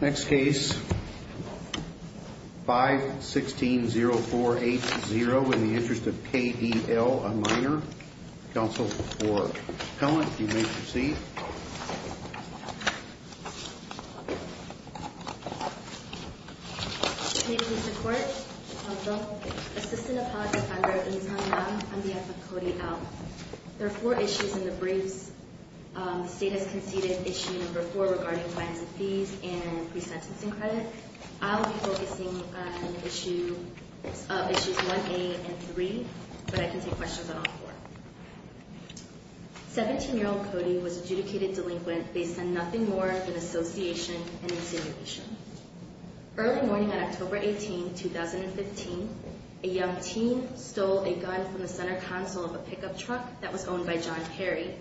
Next case, 5-16-0-4-8-0, In the Interest of K.D.L., a minor, Counsel for Pellant, you may proceed. Committee, please report. Counsel, Assistant Apology Finder, I'm the F of Cody L. There are four issues in the briefs. The State has conceded Issue No. 4 regarding fines and fees and pre-sentencing credit. I will be focusing on Issues 1A and 3, but I can take questions on all four. 17-year-old Cody was adjudicated delinquent based on nothing more than association and insinuation. Early morning on October 18, 2015, a young teen stole a gun from the center console of a pickup truck that was owned by John Perry.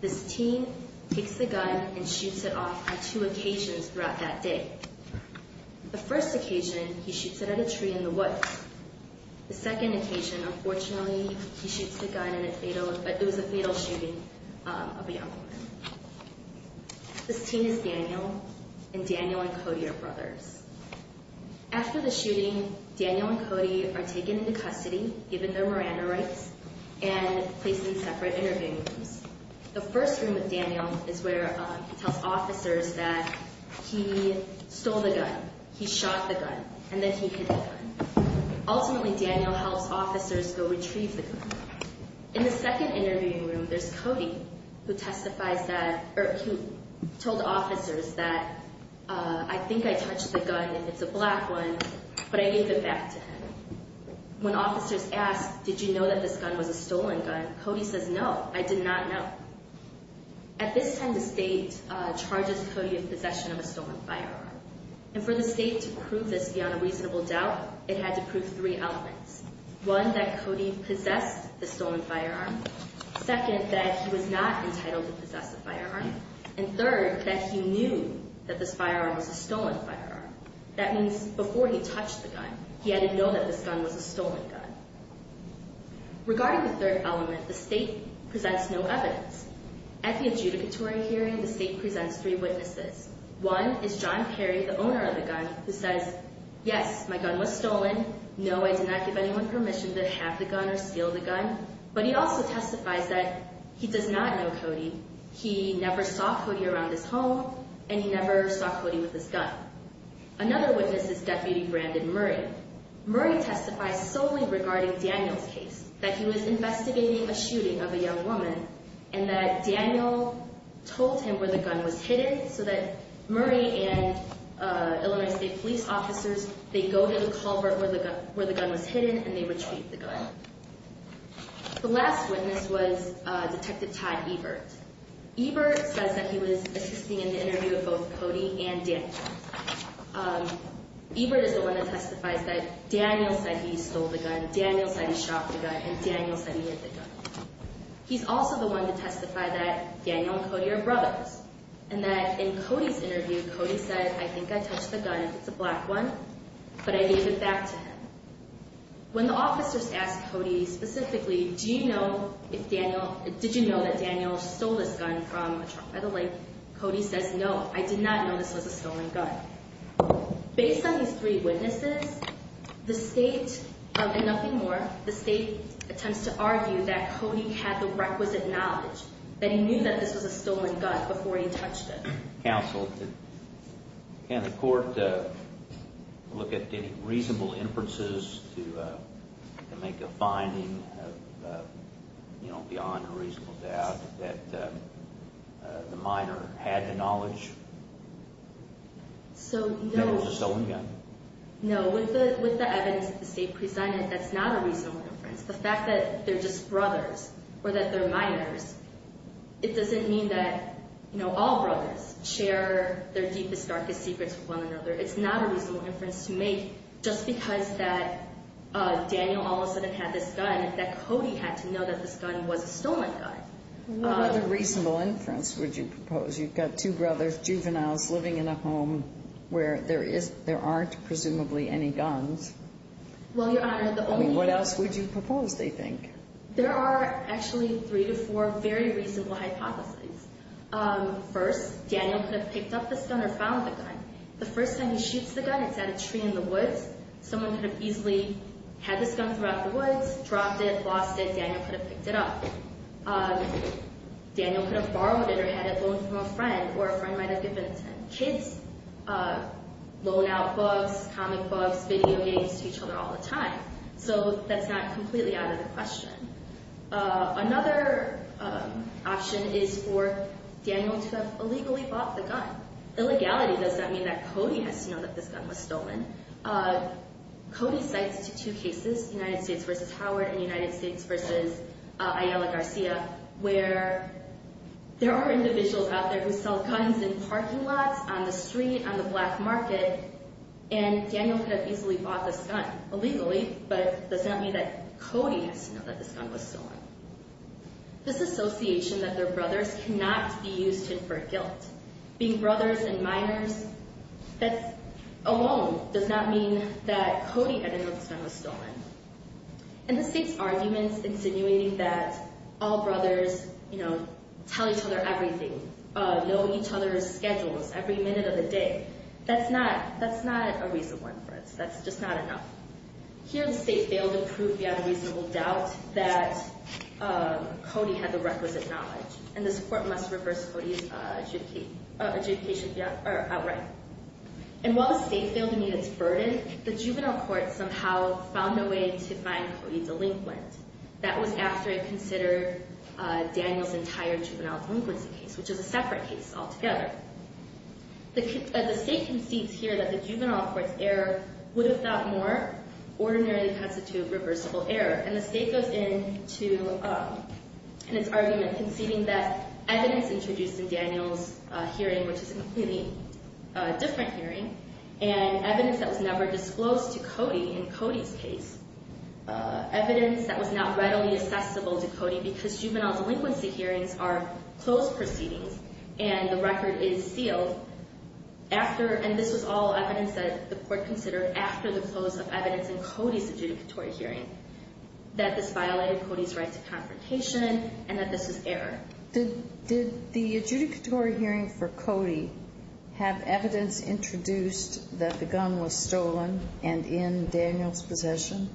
This teen takes the gun and shoots it off on two occasions throughout that day. The first occasion, he shoots it at a tree in the woods. The second occasion, unfortunately, he shoots the gun, but it was a fatal shooting of a young woman. This teen is Daniel, and Daniel and Cody are brothers. After the shooting, Daniel and Cody are taken into custody, given their Miranda rights, and placed in separate interviewing rooms. The first room with Daniel is where he tells officers that he stole the gun, he shot the gun, and that he hid the gun. Ultimately, Daniel helps officers go retrieve the gun. In the second interviewing room, there's Cody, who told officers that, I think I touched the gun, and it's a black one, but I gave it back to him. When officers ask, did you know that this gun was a stolen gun, Cody says, no, I did not know. At this time, the state charges Cody in possession of a stolen firearm. And for the state to prove this beyond a reasonable doubt, it had to prove three elements. One, that Cody possessed the stolen firearm. Second, that he was not entitled to possess a firearm. And third, that he knew that this firearm was a stolen firearm. That means before he touched the gun, he had to know that this gun was a stolen gun. Regarding the third element, the state presents no evidence. At the adjudicatory hearing, the state presents three witnesses. One is John Perry, the owner of the gun, who says, yes, my gun was stolen. No, I did not give anyone permission to have the gun or steal the gun. But he also testifies that he does not know Cody. He never saw Cody around his home, and he never saw Cody with his gun. Another witness is Deputy Brandon Murray. Murray testifies solely regarding Daniel's case, that he was investigating a shooting of a young woman, and that Daniel told him where the gun was hidden, so that Murray and Illinois State police officers, they go to the culvert where the gun was hidden, and they retrieve the gun. The last witness was Detective Todd Ebert. Ebert says that he was assisting in the interview of both Cody and Daniel. Ebert is the one that testifies that Daniel said he stole the gun, Daniel said he shot the gun, and Daniel said he hid the gun. He's also the one to testify that Daniel and Cody are brothers, and that in Cody's interview, Cody said, I think I touched the gun, it's a black one, but I gave it back to him. When the officers ask Cody specifically, do you know if Daniel, did you know that Daniel stole this gun from a truck by the lake, Cody says, no, I did not know this was a stolen gun. Based on these three witnesses, the state, and nothing more, the state attempts to argue that Cody had the requisite knowledge that he knew that this was a stolen gun before he touched it. Counsel, can the court look at any reasonable inferences to make a finding, beyond a reasonable doubt, that the minor had the knowledge that it was a stolen gun? No, with the evidence that the state presented, that's not a reasonable inference. The fact that they're just brothers, or that they're minors, it doesn't mean that, you know, all brothers share their deepest, darkest secrets with one another. It's not a reasonable inference to make just because that Daniel all of a sudden had this gun, that Cody had to know that this gun was a stolen gun. What other reasonable inference would you propose? You've got two brothers, juveniles, living in a home where there aren't presumably any guns. Well, Your Honor, the only... I mean, what else would you propose, they think? There are actually three to four very reasonable hypotheses. First, Daniel could have picked up this gun or found the gun. The first time he shoots the gun, it's at a tree in the woods. Someone could have easily had this gun throughout the woods, dropped it, lost it. Daniel could have picked it up. Daniel could have borrowed it or had it loaned from a friend, or a friend might have given it to him. Kids loan out books, comic books, video games to each other all the time. So that's not completely out of the question. Illegality does not mean that Cody has to know that this gun was stolen. Cody cites two cases, United States v. Howard and United States v. Ayala Garcia, where there are individuals out there who sell guns in parking lots, on the street, on the black market, and Daniel could have easily bought this gun illegally, but does not mean that Cody has to know that this gun was stolen. This association that they're brothers cannot be used to infer guilt. Being brothers and minors, that alone does not mean that Cody had to know this gun was stolen. And the state's arguments insinuating that all brothers, you know, tell each other everything, know each other's schedules every minute of the day, that's not a reasonable inference. That's just not enough. Here the state failed to prove beyond reasonable doubt that Cody had the requisite knowledge. And this court must reverse Cody's adjudication outright. And while the state failed to meet its burden, the juvenile court somehow found a way to find Cody delinquent. That was after it considered Daniel's entire juvenile delinquency case, which is a separate case altogether. The state concedes here that the juvenile court's error would, if not more, ordinarily constitute reversible error. And the state goes into its argument conceding that evidence introduced in Daniel's hearing, which is a completely different hearing, and evidence that was never disclosed to Cody in Cody's case, evidence that was not readily accessible to Cody because juvenile delinquency hearings are closed proceedings and the record is sealed after, and this was all evidence that the court considered after the close of evidence in Cody's adjudicatory hearing, that this violated Cody's right to confrontation and that this was error. Did the adjudicatory hearing for Cody have evidence introduced that the gun was stolen and in Daniel's possession?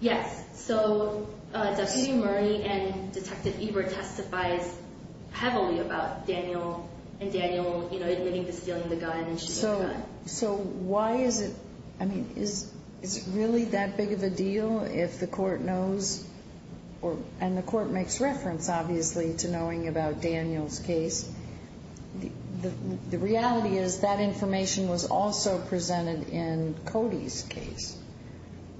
Yes. So, Deputy Murray and Detective Ebert testifies heavily about Daniel and Daniel, you know, admitting to stealing the gun and shooting the gun. So why is it, I mean, is it really that big of a deal if the court knows, and the court makes reference, obviously, to knowing about Daniel's case? The reality is that information was also presented in Cody's case.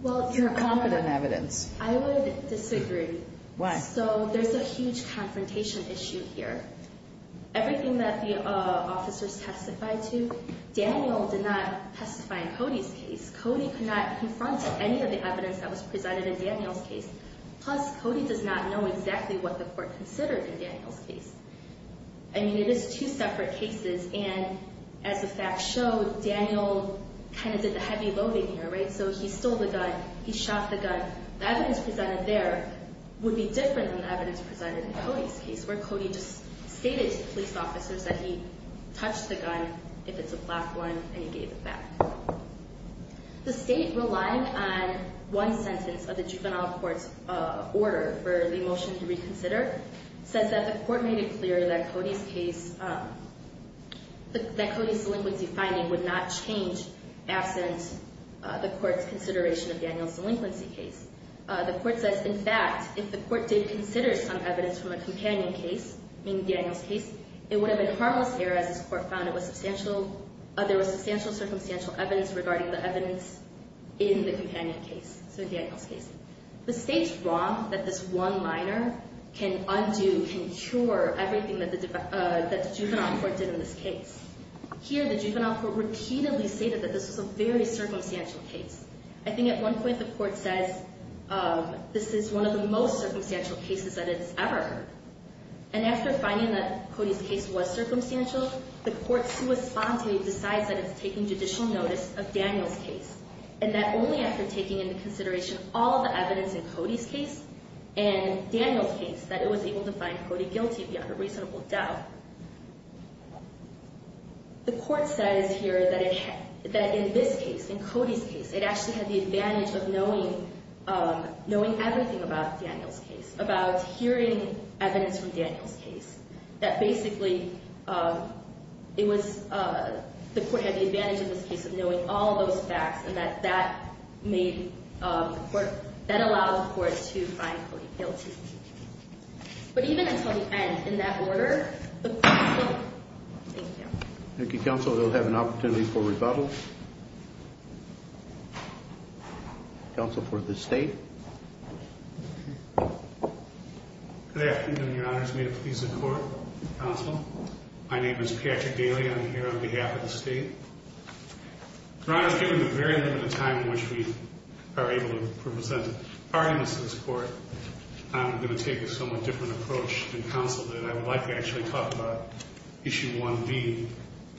Well, if you're confident evidence. I would disagree. Why? So there's a huge confrontation issue here. Everything that the officers testified to, Daniel did not testify in Cody's case. Cody could not confront any of the evidence that was presented in Daniel's case. Plus, Cody does not know exactly what the court considered in Daniel's case. I mean, it is two separate cases, and as the facts show, Daniel kind of did the heavy loading here, right? So he stole the gun. He shot the gun. The evidence presented there would be different than the evidence presented in Cody's case, where Cody just stated to the police officers that he touched the gun, if it's a black one, and he gave it back. The state, relying on one sentence of the juvenile court's order for the motion to reconsider, says that the court made it clear that Cody's case, that Cody's delinquency finding would not change absent the court's consideration of Daniel's delinquency case. The court says, in fact, if the court did consider some evidence from a companion case, meaning Daniel's case, it would have been harmless here, as this court found there was substantial circumstantial evidence regarding the evidence in the companion case, so Daniel's case. The state's wrong that this one minor can undo, can cure everything that the juvenile court did in this case. Here, the juvenile court repeatedly stated that this was a very circumstantial case. I think at one point the court says, this is one of the most circumstantial cases that it's ever heard. And after finding that Cody's case was circumstantial, the court sui sponte decides that it's taking judicial notice of Daniel's case, and that only after taking into consideration all the evidence in Cody's case and Daniel's case that it was able to find Cody guilty beyond a reasonable doubt. The court says here that in this case, in Cody's case, it actually had the advantage of knowing everything about Daniel's case, about hearing evidence from Daniel's case, that basically the court had the advantage in this case of knowing all those facts, and that that allowed the court to find Cody guilty. But even until the end, in that order, the court said, thank you. Thank you, counsel. We'll have an opportunity for rebuttal. Counsel for the state. Good afternoon, your honors. May it please the court, counsel. My name is Patrick Daly. I'm here on behalf of the state. Your honors, given the very limited time in which we are able to present arguments in this court, I'm going to take a somewhat different approach than counsel did. I would like to actually talk about Issue 1B,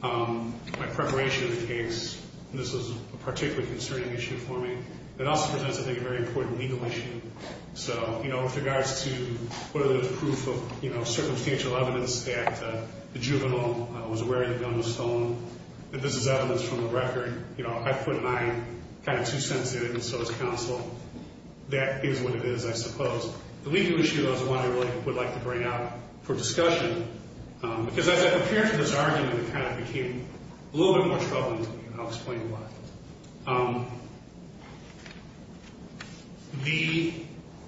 my preparation of the case. This is a particularly concerning issue for me. It also presents, I think, a very important legal issue. So, you know, with regards to whether there's proof of, you know, circumstantial evidence that the juvenile was wearing the gun was stolen, that this is evidence from the record, you know, if I put an eye kind of too sensitive and so is counsel, that is what it is, I suppose. The legal issue is one I really would like to bring up for discussion, because as I prepared for this argument, it kind of became a little bit more troubling to me, and I'll explain why. The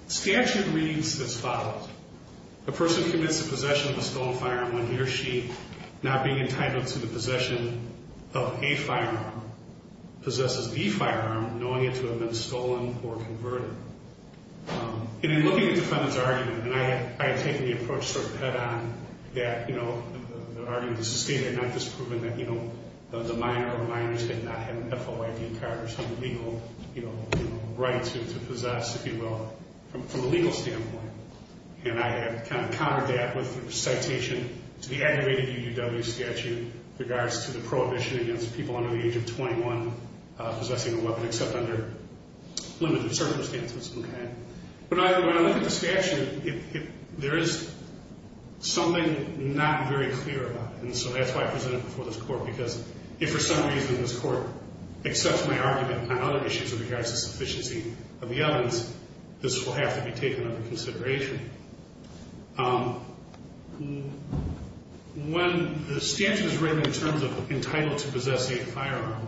statute reads as follows. A person commits the possession of a stolen firearm when he or she, not being entitled to the possession of a firearm, possesses the firearm, knowing it to have been stolen or converted. And in looking at the defendant's argument, and I had taken the approach sort of head-on that, you know, the argument is sustained and not disproven that, you know, the minor or minors did not have an FOIA card or some legal, you know, right to possess, if you will, from a legal standpoint. And I had kind of countered that with a citation to the aggravated UUW statute with regards to the prohibition against people under the age of 21 possessing a weapon except under limited circumstances, okay? But when I look at the statute, there is something not very clear about it, and so that's why I presented it before this Court, because if for some reason this Court accepts my argument on other issues with regards to sufficiency of the evidence, this will have to be taken under consideration. When the statute is written in terms of entitled to possess a firearm,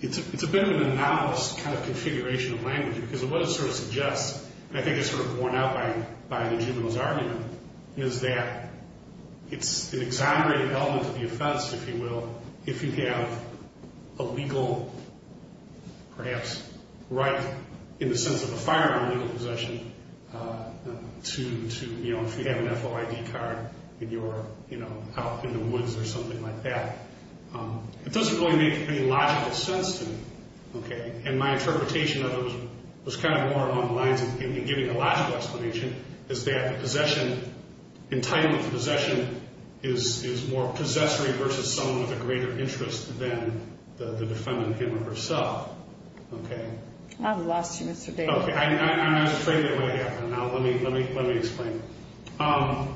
it's a bit of an anomalous kind of configuration of language, because what it sort of suggests, and I think it's sort of worn out by the juvenile's argument, is that it's an exonerated element of the offense, if you will, from a legal, perhaps right in the sense of a firearm legal possession to, you know, if you have an FOIA card and you're, you know, out in the woods or something like that. It doesn't really make any logical sense to me, okay? And my interpretation of it was kind of more along the lines of giving a logical explanation, is that the possession, entitlement to possession, is more possessory versus someone with a greater interest than the defendant him or herself, okay? I've lost you, Mr. Daly. Okay, I was afraid that would happen. Now let me explain. Are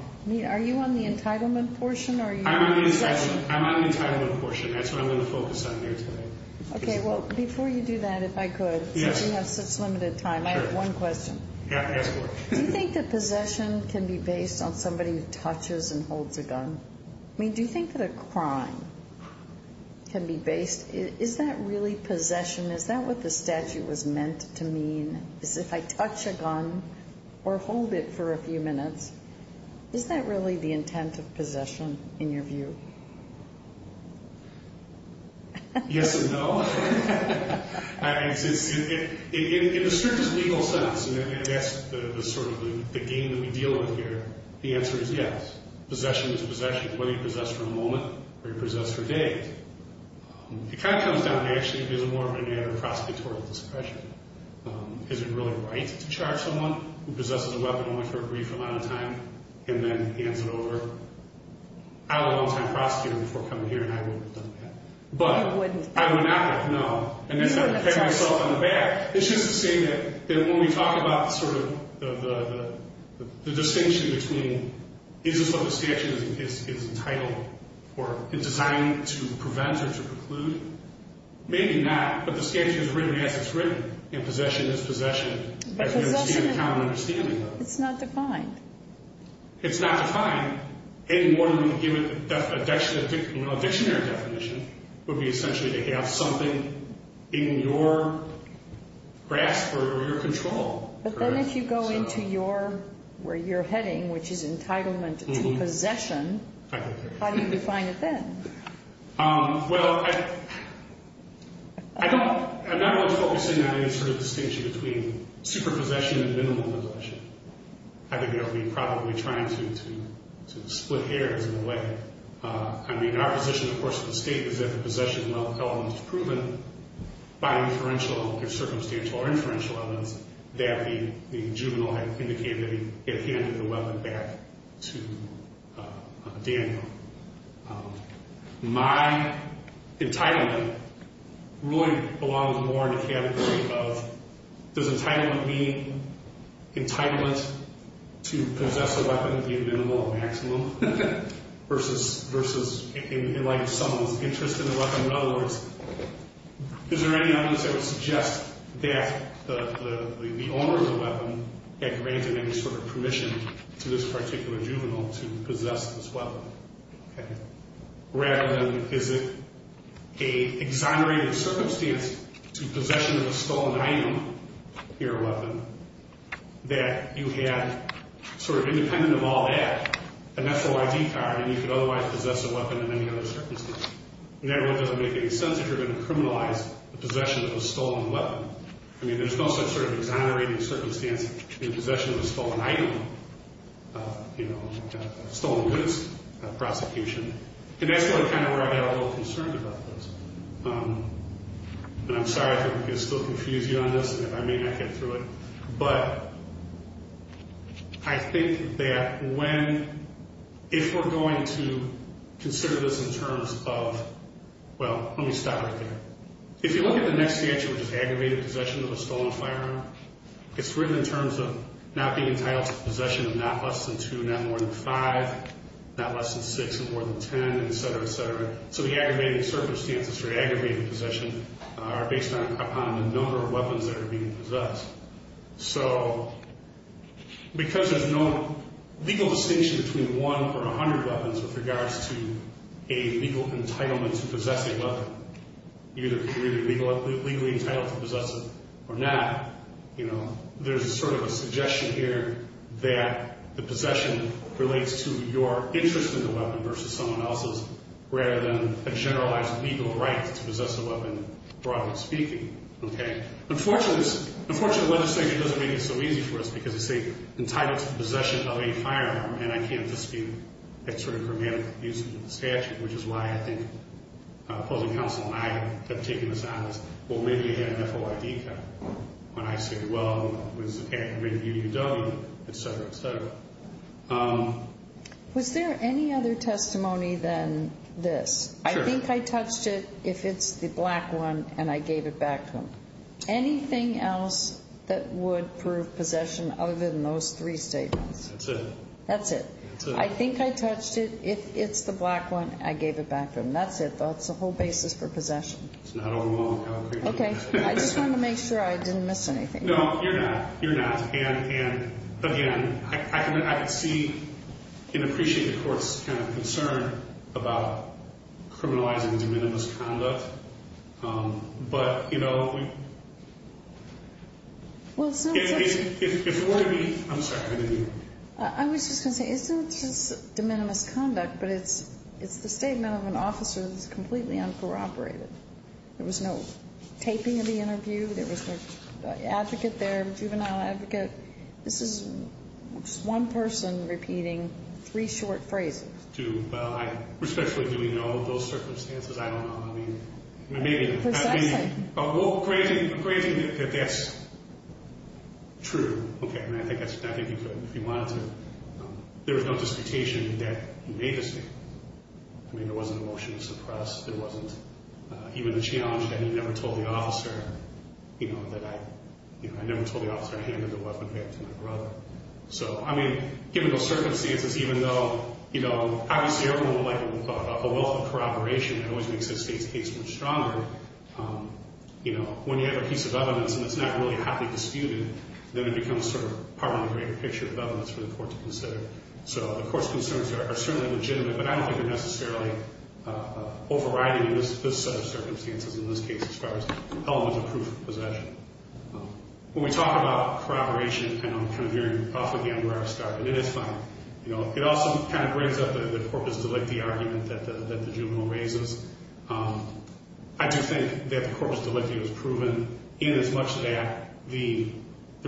you on the entitlement portion or are you on the possession? I'm on the entitlement portion. That's what I'm going to focus on here today. Okay, well, before you do that, if I could, since you have such limited time, I have one question. Yeah, ask away. Do you think that possession can be based on somebody who touches and holds a gun? I mean, do you think that a crime can be based? Is that really possession? Is that what the statute was meant to mean, is if I touch a gun or hold it for a few minutes, is that really the intent of possession in your view? Yes and no. In a certain legal sense, and that's sort of the game that we deal with here, the answer is yes. Possession is a possession, whether you possess for a moment or you possess for days. It kind of comes down to, actually, it's more of a matter of prosecutorial discretion. Is it really right to charge someone who possesses a weapon only for a brief amount of time and then hands it over? I was a long-time prosecutor before coming here, and I wouldn't have done that. You wouldn't? I would not have, no. And then I'd have to pat myself on the back. It's just the same that when we talk about sort of the distinction between is this what the statute is entitled or designed to prevent or to preclude? Maybe not, but the statute is written as it's written, and possession is possession. It's not defined. It's not defined. A dictionary definition would be essentially to have something in your grasp or your control. But then if you go into where you're heading, which is entitlement to possession, how do you define it then? Well, I'm not really focusing on any sort of distinction between superpossession and minimum possession. I think I'll be probably trying to split hairs in a way. I mean, our position, of course, at the state is that the possession of a weapon is proven by inferential or circumstantial or inferential evidence that the juvenile had indicated that he had handed the weapon back to Daniel. My entitlement really belongs more in the category of does entitlement mean entitlement to possess a weapon, be it minimal or maximum, versus in light of someone's interest in the weapon? In other words, is there any evidence that would suggest that the owner of the weapon had granted any sort of permission to this particular juvenile to possess this weapon? Rather than is it an exonerated circumstance to possession of a stolen item, your weapon, that you had sort of independent of all that, a natural ID card, and you could otherwise possess a weapon in any other circumstance? And that really doesn't make any sense if you're going to criminalize the possession of a stolen weapon. I mean, there's no such sort of exonerating circumstance in possession of a stolen item, you know, a stolen goods prosecution. And that's really kind of where I got a little concerned about this. And I'm sorry if I'm going to still confuse you on this, and if I may not get through it. But I think that when, if we're going to consider this in terms of, well, let me stop right there. If you look at the next statute, which is aggravated possession of a stolen firearm, it's written in terms of not being entitled to possession of not less than two, not more than five, not less than six, and more than ten, et cetera, et cetera. So the aggravated circumstances for aggravated possession are based upon the number of weapons that are being possessed. So because there's no legal distinction between one or 100 weapons with regards to a legal entitlement to possess a weapon, either legally entitled to possess it or not, you know, there's sort of a suggestion here that the possession relates to your interest in the weapon versus someone else's, rather than a generalized legal right to possess a weapon, broadly speaking. Okay. Unfortunately, the legislation doesn't make it so easy for us because, you see, entitled to possession of a firearm, and I can't dispute that sort of grammatical confusion with the statute, which is why I think opposing counsel and I have taken this on as, well, maybe you had an FOID code. When I say, well, it was attacked by the UUW, et cetera, et cetera. Was there any other testimony than this? Sure. I think I touched it. If it's the black one, and I gave it back to him. Anything else that would prove possession other than those three statements? That's it. That's it. That's it. I think I touched it. If it's the black one, I gave it back to him. That's it. That's the whole basis for possession. It's not overlong. Okay. I just wanted to make sure I didn't miss anything. No, you're not. You're not. And, again, I can see and appreciate the Court's kind of concern about criminalizing de minimis conduct, but, you know, if it were to be ‑‑ I'm sorry. I didn't hear you. I was just going to say, it's not just de minimis conduct, but it's the statement of an officer that's completely uncorroborated. There was no taping of the interview. There was no advocate there, juvenile advocate. This is just one person repeating three short phrases. Well, respectfully, do we know of those circumstances? I don't know. I mean, maybe. Precisely. Well, granting that that's true, okay, I mean, I think you could if you wanted to. There was no disputation that he made the statement. I mean, there wasn't a motion to suppress. There wasn't even a challenge that he never told the officer, you know, that I never told the officer I handed the weapon back to my brother. So, I mean, given those circumstances, even though, you know, obviously everyone would like it if we thought about the willful corroboration that always makes this case much stronger, you know, when you have a piece of evidence and it's not really hotly disputed, then it becomes sort of part of the greater picture of evidence for the Court to consider. So the Court's concerns are certainly legitimate, but I don't think they're necessarily overriding this set of circumstances in this case as far as elements of proof of possession. When we talk about corroboration, I know I'm kind of veering off again where I started, and it is funny. You know, it also kind of brings up the corpus delicti argument that the juvenile raises. I do think that the corpus delicti was proven in as much that the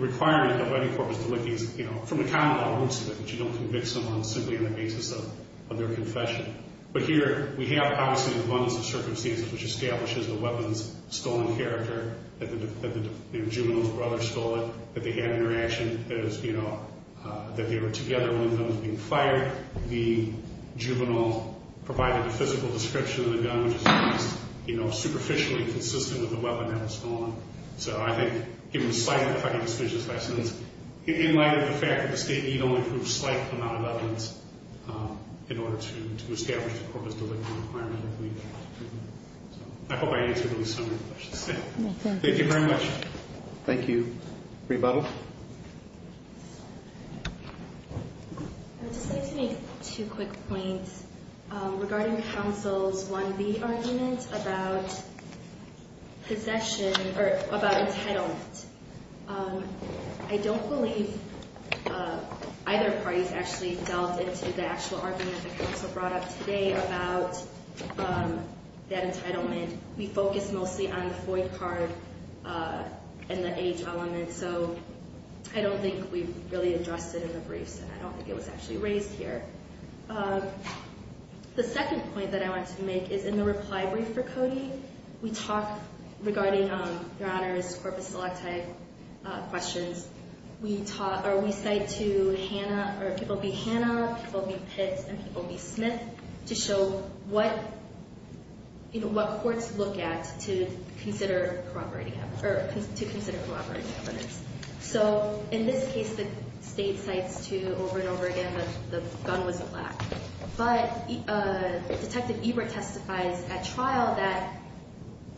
requirement of any corpus delicti is, you know, from the common law roots of it that you don't convict someone simply on the basis of their confession. But here we have, obviously, an abundance of circumstances which establishes the weapon's stolen character, that the juvenile's brother stole it, that they had an interaction, that it was, you know, that they were together when the gun was being fired. The juvenile provided a physical description of the gun, which is, you know, superficially consistent with the weapon that was stolen. So I think, given the size of the fighting suspicious lessons, in light of the fact that the state need only prove a slight amount of evidence in order to establish the corpus delicti requirement, I believe that's true. So I hope I answered at least some of your questions. Thank you. Thank you very much. Thank you. Rebuttal? I would just like to make two quick points regarding counsel's 1B argument about possession or about entitlement. I don't believe either party's actually delved into the actual argument that counsel brought up today about that entitlement. We focused mostly on the FOI card and the age element, so I don't think we really addressed it in the briefs, and I don't think it was actually raised here. The second point that I want to make is, in the reply brief for Cody, we talk regarding your Honor's corpus delicti questions. We cite to Hannah, or it will be Hannah, it will be Pitts, and it will be Smith, to show what courts look at to consider corroborating evidence. So in this case, the State cites to, over and over again, that the gun wasn't black. But Detective Ebert testifies at trial that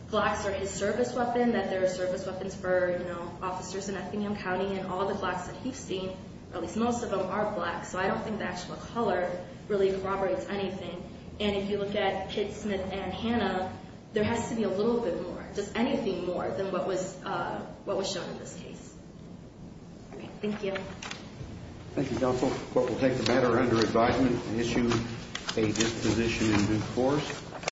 blacks are his service weapon, that they're service weapons for officers in Athenium County, and all the blacks that he's seen, at least most of them, are black. So I don't think the actual color really corroborates anything. And if you look at Pitts, Smith, and Hannah, there has to be a little bit more, just anything more than what was shown in this case. All right. Thank you. Thank you, counsel. The court will take the matter under advisement and issue a disposition in due course.